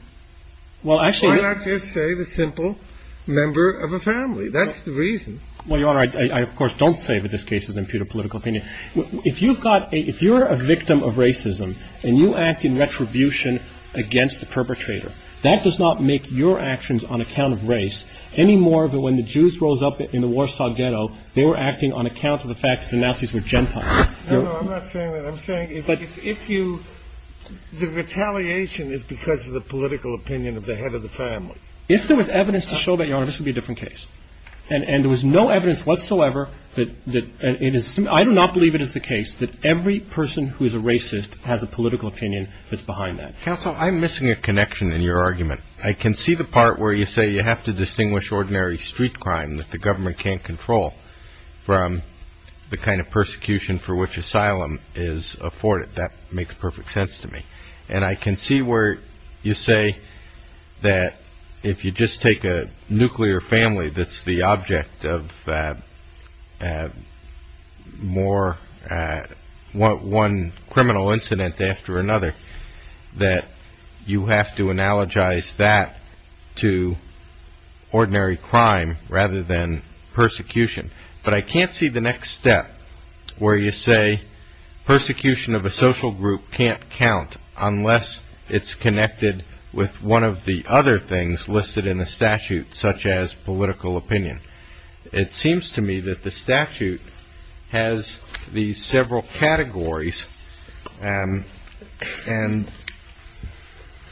Well, actually. Why not just say the simple member of a family? That's the reason. Well, Your Honor, I of course don't say that this case is imputed political opinion. If you've got a if you're a victim of racism and you act in retribution against the perpetrator, that does not make your actions on account of race any more than when the Jews rose up in the Warsaw ghetto. They were acting on account of the fact that the Nazis were gentile. I'm not saying that I'm saying. But if you the retaliation is because of the political opinion of the head of the family. If there was evidence to show that, Your Honor, this would be a different case. And there was no evidence whatsoever. I do not believe it is the case that every person who is a racist has a political opinion that's behind that. Counsel, I'm missing a connection in your argument. I can see the part where you say you have to distinguish ordinary street crime that the government can't control from the kind of persecution for which asylum is afforded. That makes perfect sense to me. And I can see where you say that if you just take a nuclear family, that's the object of more one criminal incident after another, that you have to analogize that to ordinary crime rather than persecution. But I can't see the next step where you say persecution of a social group can't count unless it's connected with one of the other things listed in the statute, such as political opinion. It seems to me that the statute has these several categories. And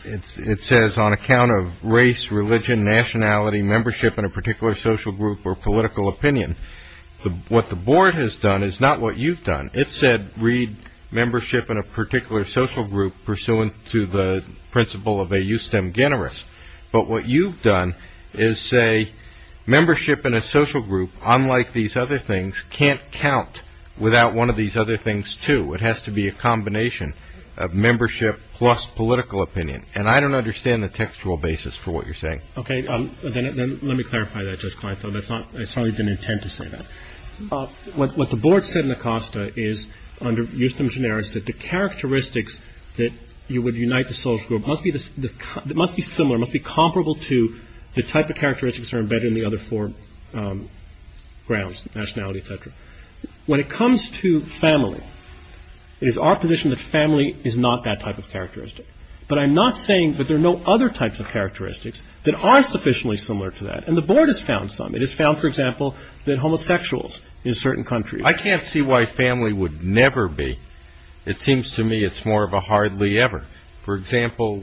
it says on account of race, religion, nationality, membership in a particular social group, or political opinion. What the board has done is not what you've done. It said read membership in a particular social group pursuant to the principle of a justem generis. But what you've done is say membership in a social group, unlike these other things, can't count without one of these other things too. It has to be a combination of membership plus political opinion. And I don't understand the textual basis for what you're saying. Okay, then let me clarify that, Judge Kleinfeld. I certainly didn't intend to say that. What the board said in Acosta is, under justem generis, that the characteristics that you would unite the social group must be similar, must be comparable to the type of characteristics that are embedded in the other four grounds, nationality, etc. When it comes to family, it is our position that family is not that type of characteristic. But I'm not saying that there are no other types of characteristics that are sufficiently similar to that. And the board has found some. It has found, for example, that homosexuals in certain countries. I can't see why family would never be. It seems to me it's more of a hardly ever. For example,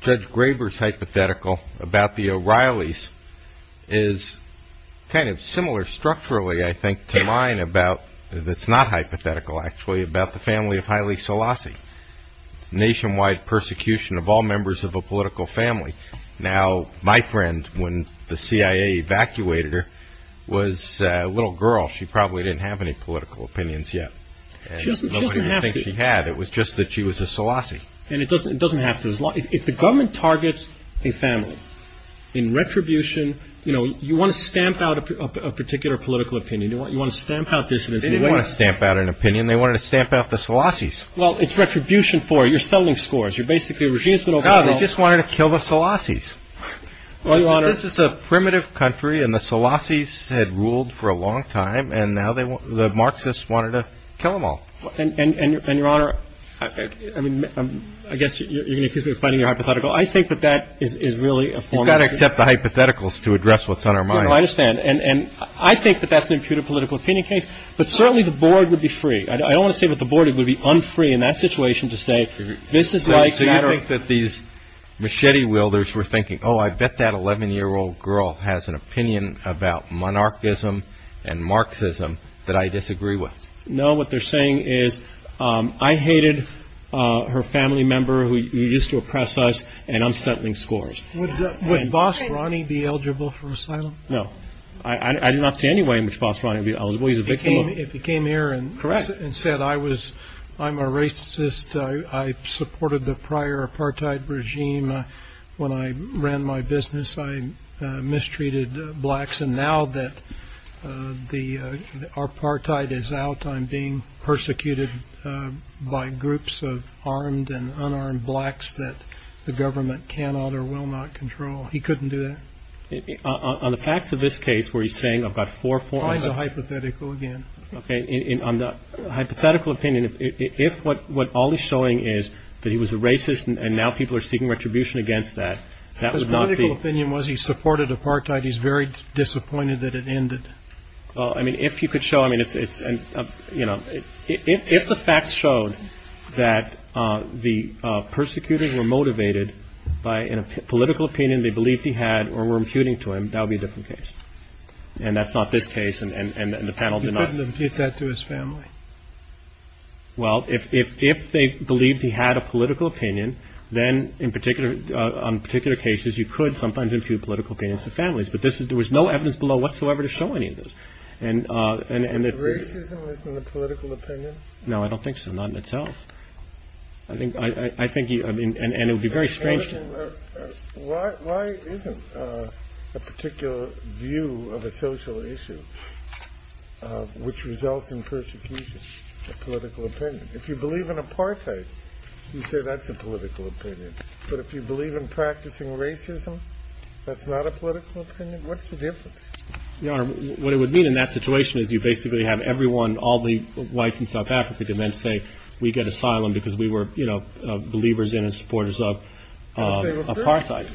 Judge Graber's hypothetical about the O'Reillys is kind of similar structurally, I think, to mine, that's not hypothetical, actually, about the family of Haile Selassie. It's nationwide persecution of all members of a political family. Now, my friend, when the CIA evacuated her, was a little girl. She probably didn't have any political opinions yet. She doesn't have to. She had. It was just that she was a Selassie. And it doesn't have to. If the government targets a family in retribution, you know, you want to stamp out a particular political opinion. You want to stamp out dissidents. They didn't want to stamp out an opinion. They wanted to stamp out the Selassies. Well, it's retribution for it. You're selling scores. You're basically... They just wanted to kill the Selassies. This is a primitive country, and the Selassies had ruled for a long time, and now the Marxists wanted to kill them all. And, Your Honor, I mean, I guess you're going to keep refining your hypothetical. I think that that is really a form of... You've got to accept the hypotheticals to address what's on our minds. I understand. And I think that that's an imputed political opinion case. But certainly the Board would be free. I don't want to say that the Board would be unfree in that situation to say this is like... So you think that these machete wielders were thinking, oh, I bet that 11-year-old girl has an opinion about monarchism and Marxism that I disagree with. No. What they're saying is, I hated her family member who used to oppress us, and I'm sampling scores. Would Vos Ronnie be eligible for asylum? No. I do not see any way in which Vos Ronnie would be eligible. He's a victim of... If he came here and said, I'm a racist, I supported the prior apartheid regime. When I ran my business, I mistreated blacks. And now that the apartheid is out, I'm being persecuted by groups of armed and unarmed blacks that the government cannot or will not control. He couldn't do that? On the facts of this case where he's saying, I've got four... Find the hypothetical again. On the hypothetical opinion, if what all he's showing is that he was a racist and now people are seeking retribution against that, that would not be... His political opinion was he supported apartheid. He's very disappointed that it ended. If you could show... If the facts showed that the persecutors were motivated by a political opinion they believed he had or were imputing to him, that would be a different case. And that's not this case and the panel did not... You couldn't impute that to his family? Well, if they believed he had a political opinion, then on particular cases you could sometimes impute political opinions to families. But there was no evidence below whatsoever to show any of this. Racism isn't a political opinion? No, I don't think so. Not in itself. I think you... And it would be very strange to... Why isn't a particular view of a social issue which results in persecution a political opinion? If you believe in apartheid, you say that's a political opinion. But if you believe in practicing racism, that's not a political opinion? What's the difference? Your Honor, what it would mean in that situation is you basically have everyone, all the whites in South Africa, then say we get asylum because we were, you know, believers in and supporters of apartheid.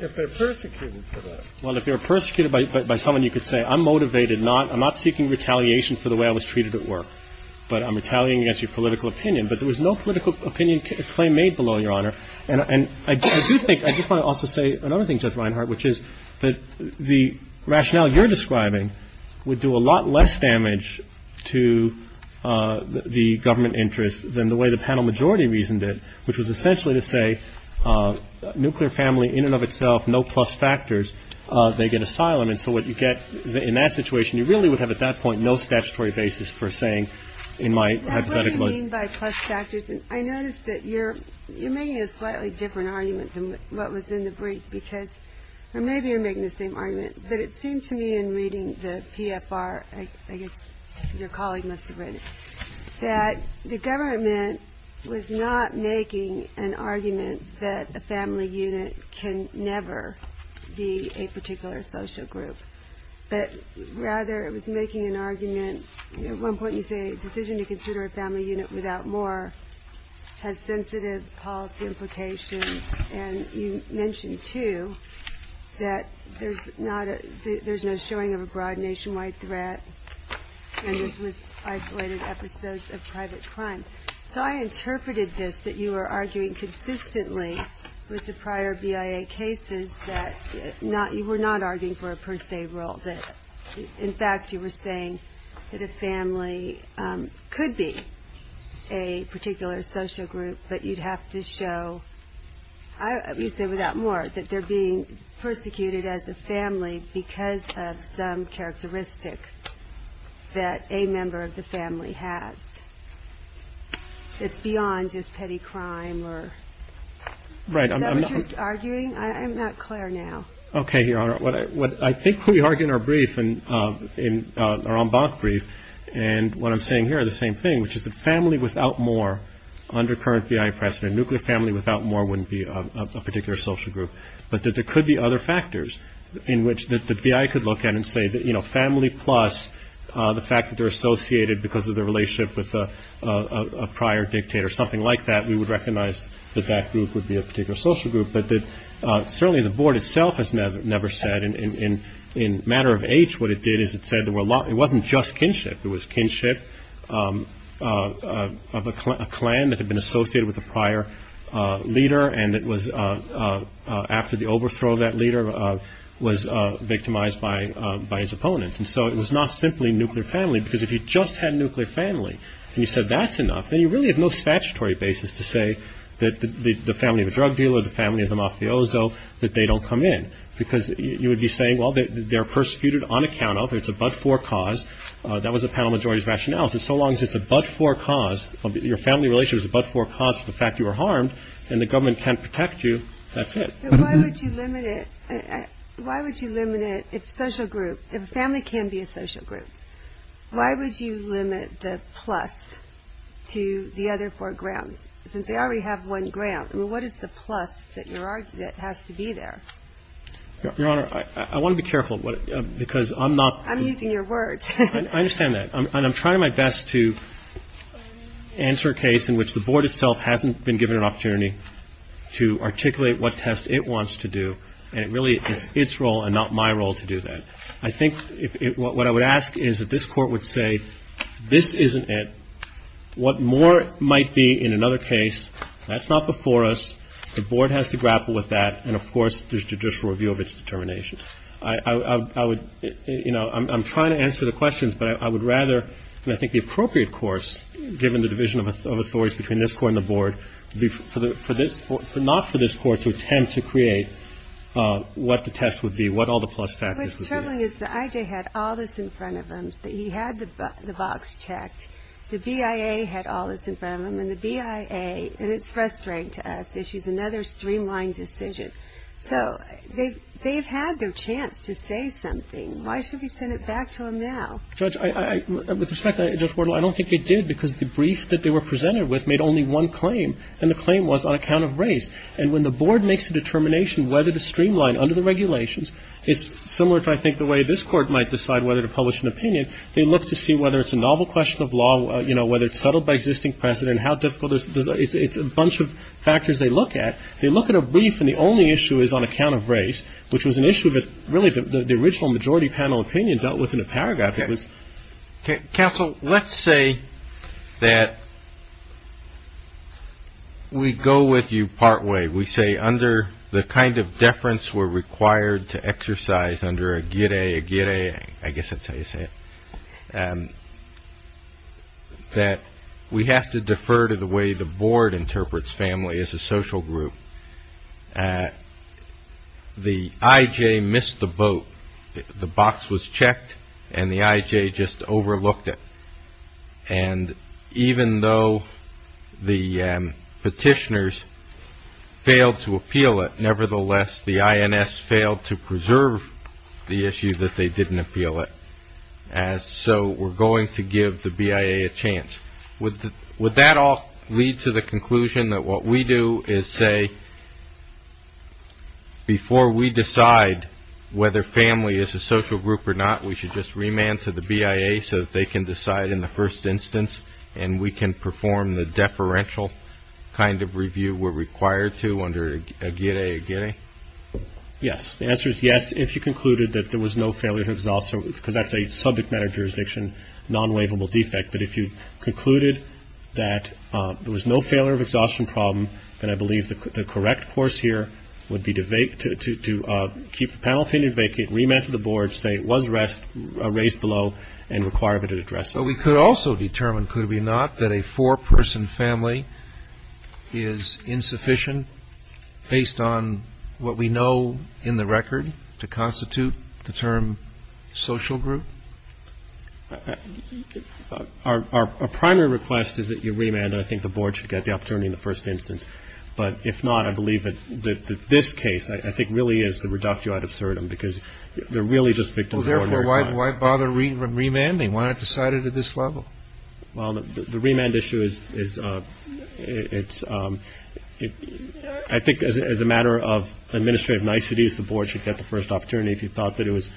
If they're persecuted for that? Well, if they were persecuted by someone, you could say I'm motivated. I'm not seeking retaliation for the way I was treated at work. But I'm retaliating against your political opinion. But there was no political opinion claim made below, Your Honor. And I do think, I just want to also say another thing, Judge Reinhart, which is that the rationale you're describing would do a lot less damage to the government interest than the way the panel majority reasoned it, which was essentially to say nuclear family in and of itself, no plus factors, they get asylum. And so what you get in that situation, you really would have at that point no statutory basis for saying in my hypothetical... What do you mean by plus factors? I noticed that you're making a slightly different argument than what was in the brief, because maybe you're making the same argument, but it seemed to me in reading the PFR, I guess your colleague must have written it, that the government was not making an argument that a family unit can never be a particular social group, but rather it was making an argument. At one point you say a decision to consider a family unit without more had sensitive policy implications, and you mentioned, too, that there's no showing of a broad nationwide threat, and this was isolated episodes of private crime. So I interpreted this that you were arguing consistently with the prior BIA cases that you were not arguing for a per se role, that in fact you were saying that a family could be a particular social group, but you'd have to show, you say without more, that they're being persecuted as a family because of some characteristic that a member of the family has. It's beyond just petty crime or... Right. Is that what you're arguing? I'm not clear now. Okay, Your Honor. What I think we argue in our brief, in our en banc brief, and what I'm saying here are the same thing, which is that family without more under current BIA precedent, nuclear family without more wouldn't be a particular social group, but that there could be other factors in which the BIA could look at and say that, you know, family plus the fact that they're associated because of their relationship with a prior dictator, something like that, we would recognize that that group would be a particular social group, but that certainly the board itself has never said, and in matter of age what it did is it said it wasn't just kinship, it was kinship of a clan that had been associated with a prior leader and it was after the overthrow of that leader was victimized by his opponents. And so it was not simply nuclear family because if you just had nuclear family and you said that's enough, then you really have no statutory basis to say that the family of a drug dealer, the family of a mafioso, that they don't come in because you would be saying, well, they're persecuted on account of, it's a but-for cause. That was the panel majority's rationale. So long as it's a but-for cause, your family relationship is a but-for cause of the fact you were harmed and the government can't protect you, that's it. But why would you limit it? Why would you limit it if social group, if a family can be a social group, why would you limit the plus to the other four grounds since they already have one ground? I mean, what is the plus that has to be there? Your Honor, I want to be careful because I'm not. I'm using your words. I understand that. And I'm trying my best to answer a case in which the Board itself hasn't been given an opportunity to articulate what test it wants to do. And it really is its role and not my role to do that. I think what I would ask is that this Court would say this isn't it. What more might be in another case? That's not before us. The Board has to grapple with that. And, of course, there's judicial review of its determination. I would, you know, I'm trying to answer the questions. But I would rather, and I think the appropriate course, given the division of authorities between this Court and the Board, not for this Court to attempt to create what the test would be, what all the plus factors would be. My feeling is that I.J. had all this in front of him. He had the box checked. The BIA had all this in front of him. And the BIA, and it's frustrating to us, issues another streamlined decision. So they've had their chance to say something. Why should we send it back to them now? Judge, with respect, Judge Wardle, I don't think they did because the brief that they were presented with made only one claim, and the claim was on account of race. And when the Board makes a determination whether to streamline under the regulations, it's similar to, I think, the way this Court might decide whether to publish an opinion. They look to see whether it's a novel question of law, you know, whether it's settled by existing precedent, how difficult it is. It's a bunch of factors they look at. They look at a brief, and the only issue is on account of race, which was an issue that really the original majority panel opinion dealt with in a paragraph. Counsel, let's say that we go with you partway. We say under the kind of deference we're required to exercise under a GIDAE, a GIDAE, I guess that's how you say it, that we have to defer to the way the Board interprets family as a social group. The IJ missed the boat. The box was checked, and the IJ just overlooked it. And even though the petitioners failed to appeal it, nevertheless the INS failed to preserve the issue that they didn't appeal it. And so we're going to give the BIA a chance. Would that all lead to the conclusion that what we do is say, before we decide whether family is a social group or not, we should just remand to the BIA so that they can decide in the first instance, and we can perform the deferential kind of review we're required to under a GIDAE, a GIDAE? Yes. The answer is yes if you concluded that there was no failure of exhaustion, because that's a subject matter jurisdiction non-waivable defect. But if you concluded that there was no failure of exhaustion problem, then I believe the correct course here would be to keep the panel opinion vacant, remand to the board, say it was raised below, and require that it addressed. But we could also determine, could we not, that a four-person family is insufficient based on what we know in the record to constitute the term social group? Our primary request is that you remand, and I think the board should get the opportunity in the first instance. But if not, I believe that this case I think really is the reductio ad absurdum, because they're really just victims of ordinary crime. Well, therefore, why bother remanding? Why not decide it at this level? Well, the remand issue is, I think as a matter of administrative niceties, the board should get the first opportunity if you thought that it was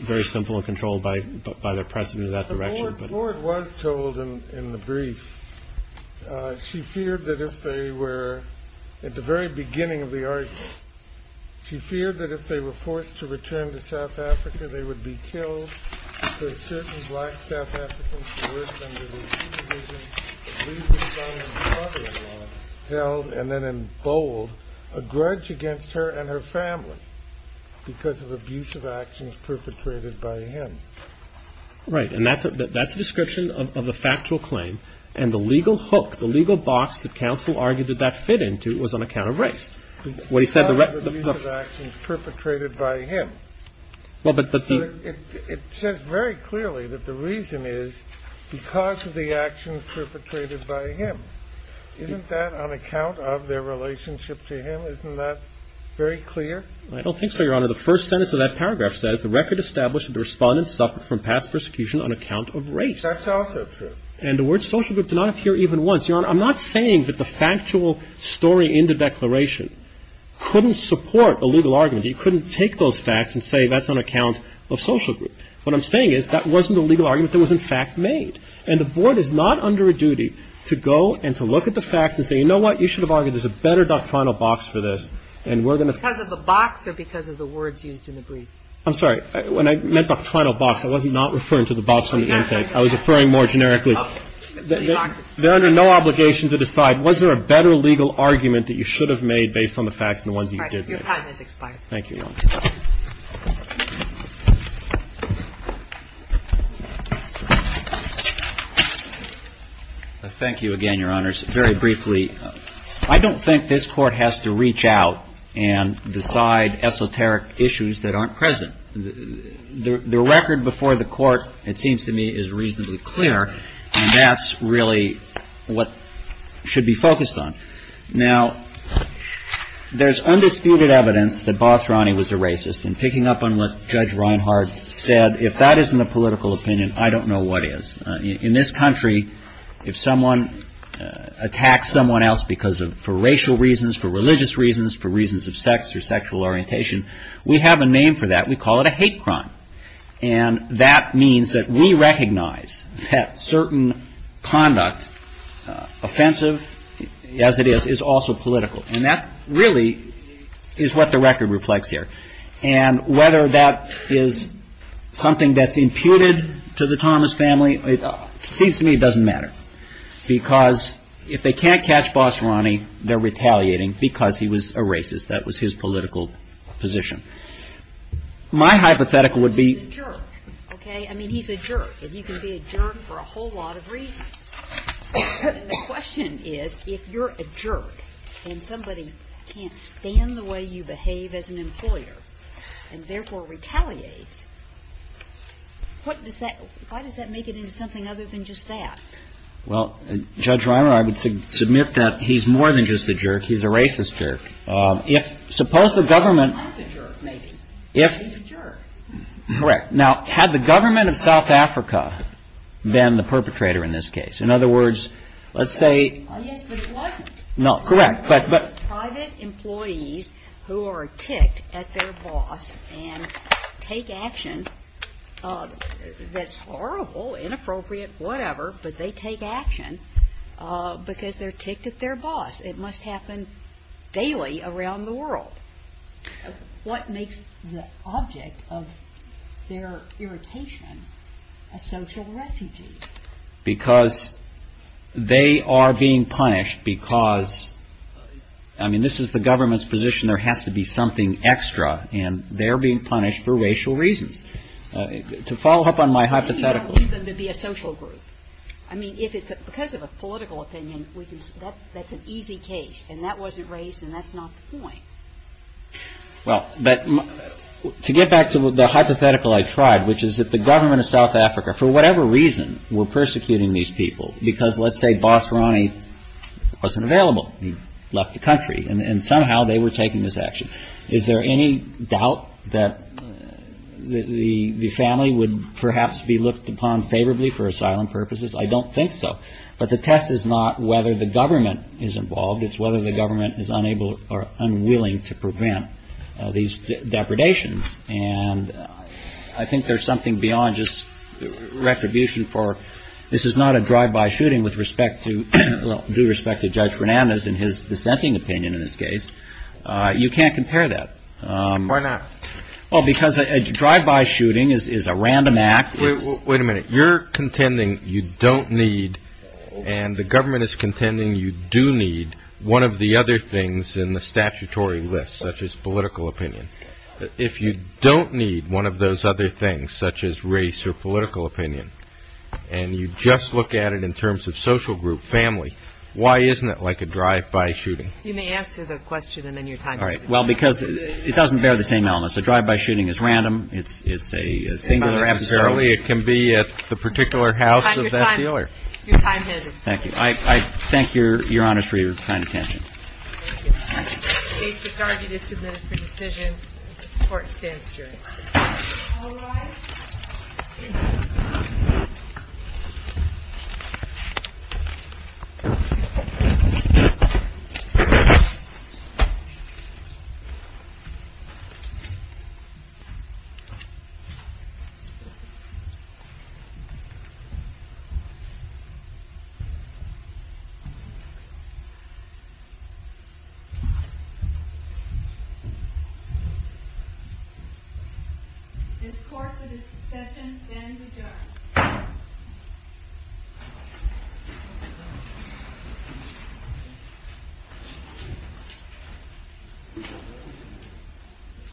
very simple and controlled by their precedent in that direction. The board was told in the brief, she feared that if they were, at the very beginning of the argument, she feared that if they were forced to return to South Africa, they would be killed for certain black South Africans who worked under the supervision of Lee's son and daughter-in-law, held, and then in bold, a grudge against her and her family because of abusive actions perpetrated by him. Right. And that's a description of a factual claim. And the legal hook, the legal box that counsel argued that that fit into was on account of race. Because of the abusive actions perpetrated by him. It says very clearly that the reason is because of the actions perpetrated by him. Isn't that on account of their relationship to him? Isn't that very clear? I don't think so, Your Honor. The first sentence of that paragraph says, the record established that the Respondent suffered from past persecution on account of race. That's also true. And the word social group did not appear even once. Your Honor, I'm not saying that the factual story in the declaration couldn't support a legal argument. You couldn't take those facts and say that's on account of social group. What I'm saying is that wasn't a legal argument that was in fact made. And the Board is not under a duty to go and to look at the facts and say, you know what, you should have argued there's a better doctrinal box for this, and we're going to ---- Because of the box or because of the words used in the brief? I'm sorry. When I meant doctrinal box, I was not referring to the box on the intake. I was referring more generically. They're under no obligation to decide was there a better legal argument that you should have made based on the facts than the ones you did make. All right. Your time has expired. Thank you, Your Honor. Thank you again, Your Honors. Very briefly, I don't think this Court has to reach out and decide esoteric issues that aren't present. The record before the Court, it seems to me, is reasonably clear. And that's really what should be focused on. Now, there's undisputed evidence that Boss Ronnie was a racist. And picking up on what Judge Reinhart said, if that isn't a political opinion, I don't know what is. In this country, if someone attacks someone else because of ---- for racial reasons, for religious reasons, for reasons of sex or sexual orientation, we have a name for that. We call it a hate crime. And that means that we recognize that certain conduct, offensive as it is, is also political. And that really is what the record reflects here. And whether that is something that's imputed to the Thomas family, it seems to me it doesn't matter. Because if they can't catch Boss Ronnie, they're retaliating because he was a racist. That was his political position. My hypothetical would be ---- He's a jerk. Okay? I mean, he's a jerk. And you can be a jerk for a whole lot of reasons. And the question is, if you're a jerk and somebody can't stand the way you behave as an employer, and therefore retaliates, what does that ---- why does that make it into something other than just that? Well, Judge Reimer, I would submit that he's more than just a jerk. He's a racist jerk. If suppose the government ---- He's not a jerk, maybe. He's a jerk. Correct. Now, had the government of South Africa been the perpetrator in this case? In other words, let's say ---- Yes, but it wasn't. No, correct. Private employees who are ticked at their boss and take action that's horrible, inappropriate, whatever, but they take action because they're ticked at their boss. It must happen daily around the world. What makes the object of their irritation a social refugee? Because they are being punished because, I mean, this is the government's position. There has to be something extra, and they're being punished for racial reasons. To follow up on my hypothetical ---- You don't need them to be a social group. I mean, if it's because of a political opinion, that's an easy case, and that wasn't raised, and that's not the point. Well, but to get back to the hypothetical I tried, which is that the government of South Africa, for whatever reason, were persecuting these people because, let's say, Boss Ronnie wasn't available, left the country, and somehow they were taking this action. Is there any doubt that the family would perhaps be looked upon favorably for asylum purposes? I don't think so. But the test is not whether the government is involved. It's whether the government is unable or unwilling to prevent these depredations. And I think there's something beyond just retribution for ---- This is not a drive-by shooting with due respect to Judge Fernandez and his dissenting opinion in this case. You can't compare that. Why not? Well, because a drive-by shooting is a random act. Wait a minute. You're contending you don't need, and the government is contending you do need, one of the other things in the statutory list, such as political opinion. If you don't need one of those other things, such as race or political opinion, and you just look at it in terms of social group, family, why isn't it like a drive-by shooting? You may answer the question and then your time is up. All right. Well, because it doesn't bear the same elements. A drive-by shooting is random. It's a singular episode. Apparently it can be at the particular house of that dealer. Your time has expired. Thank you. I thank Your Honor for your kind attention. Thank you. The case is argued and submitted for decision. This Court stands adjourned. All rise. This Court for discussion stands adjourned.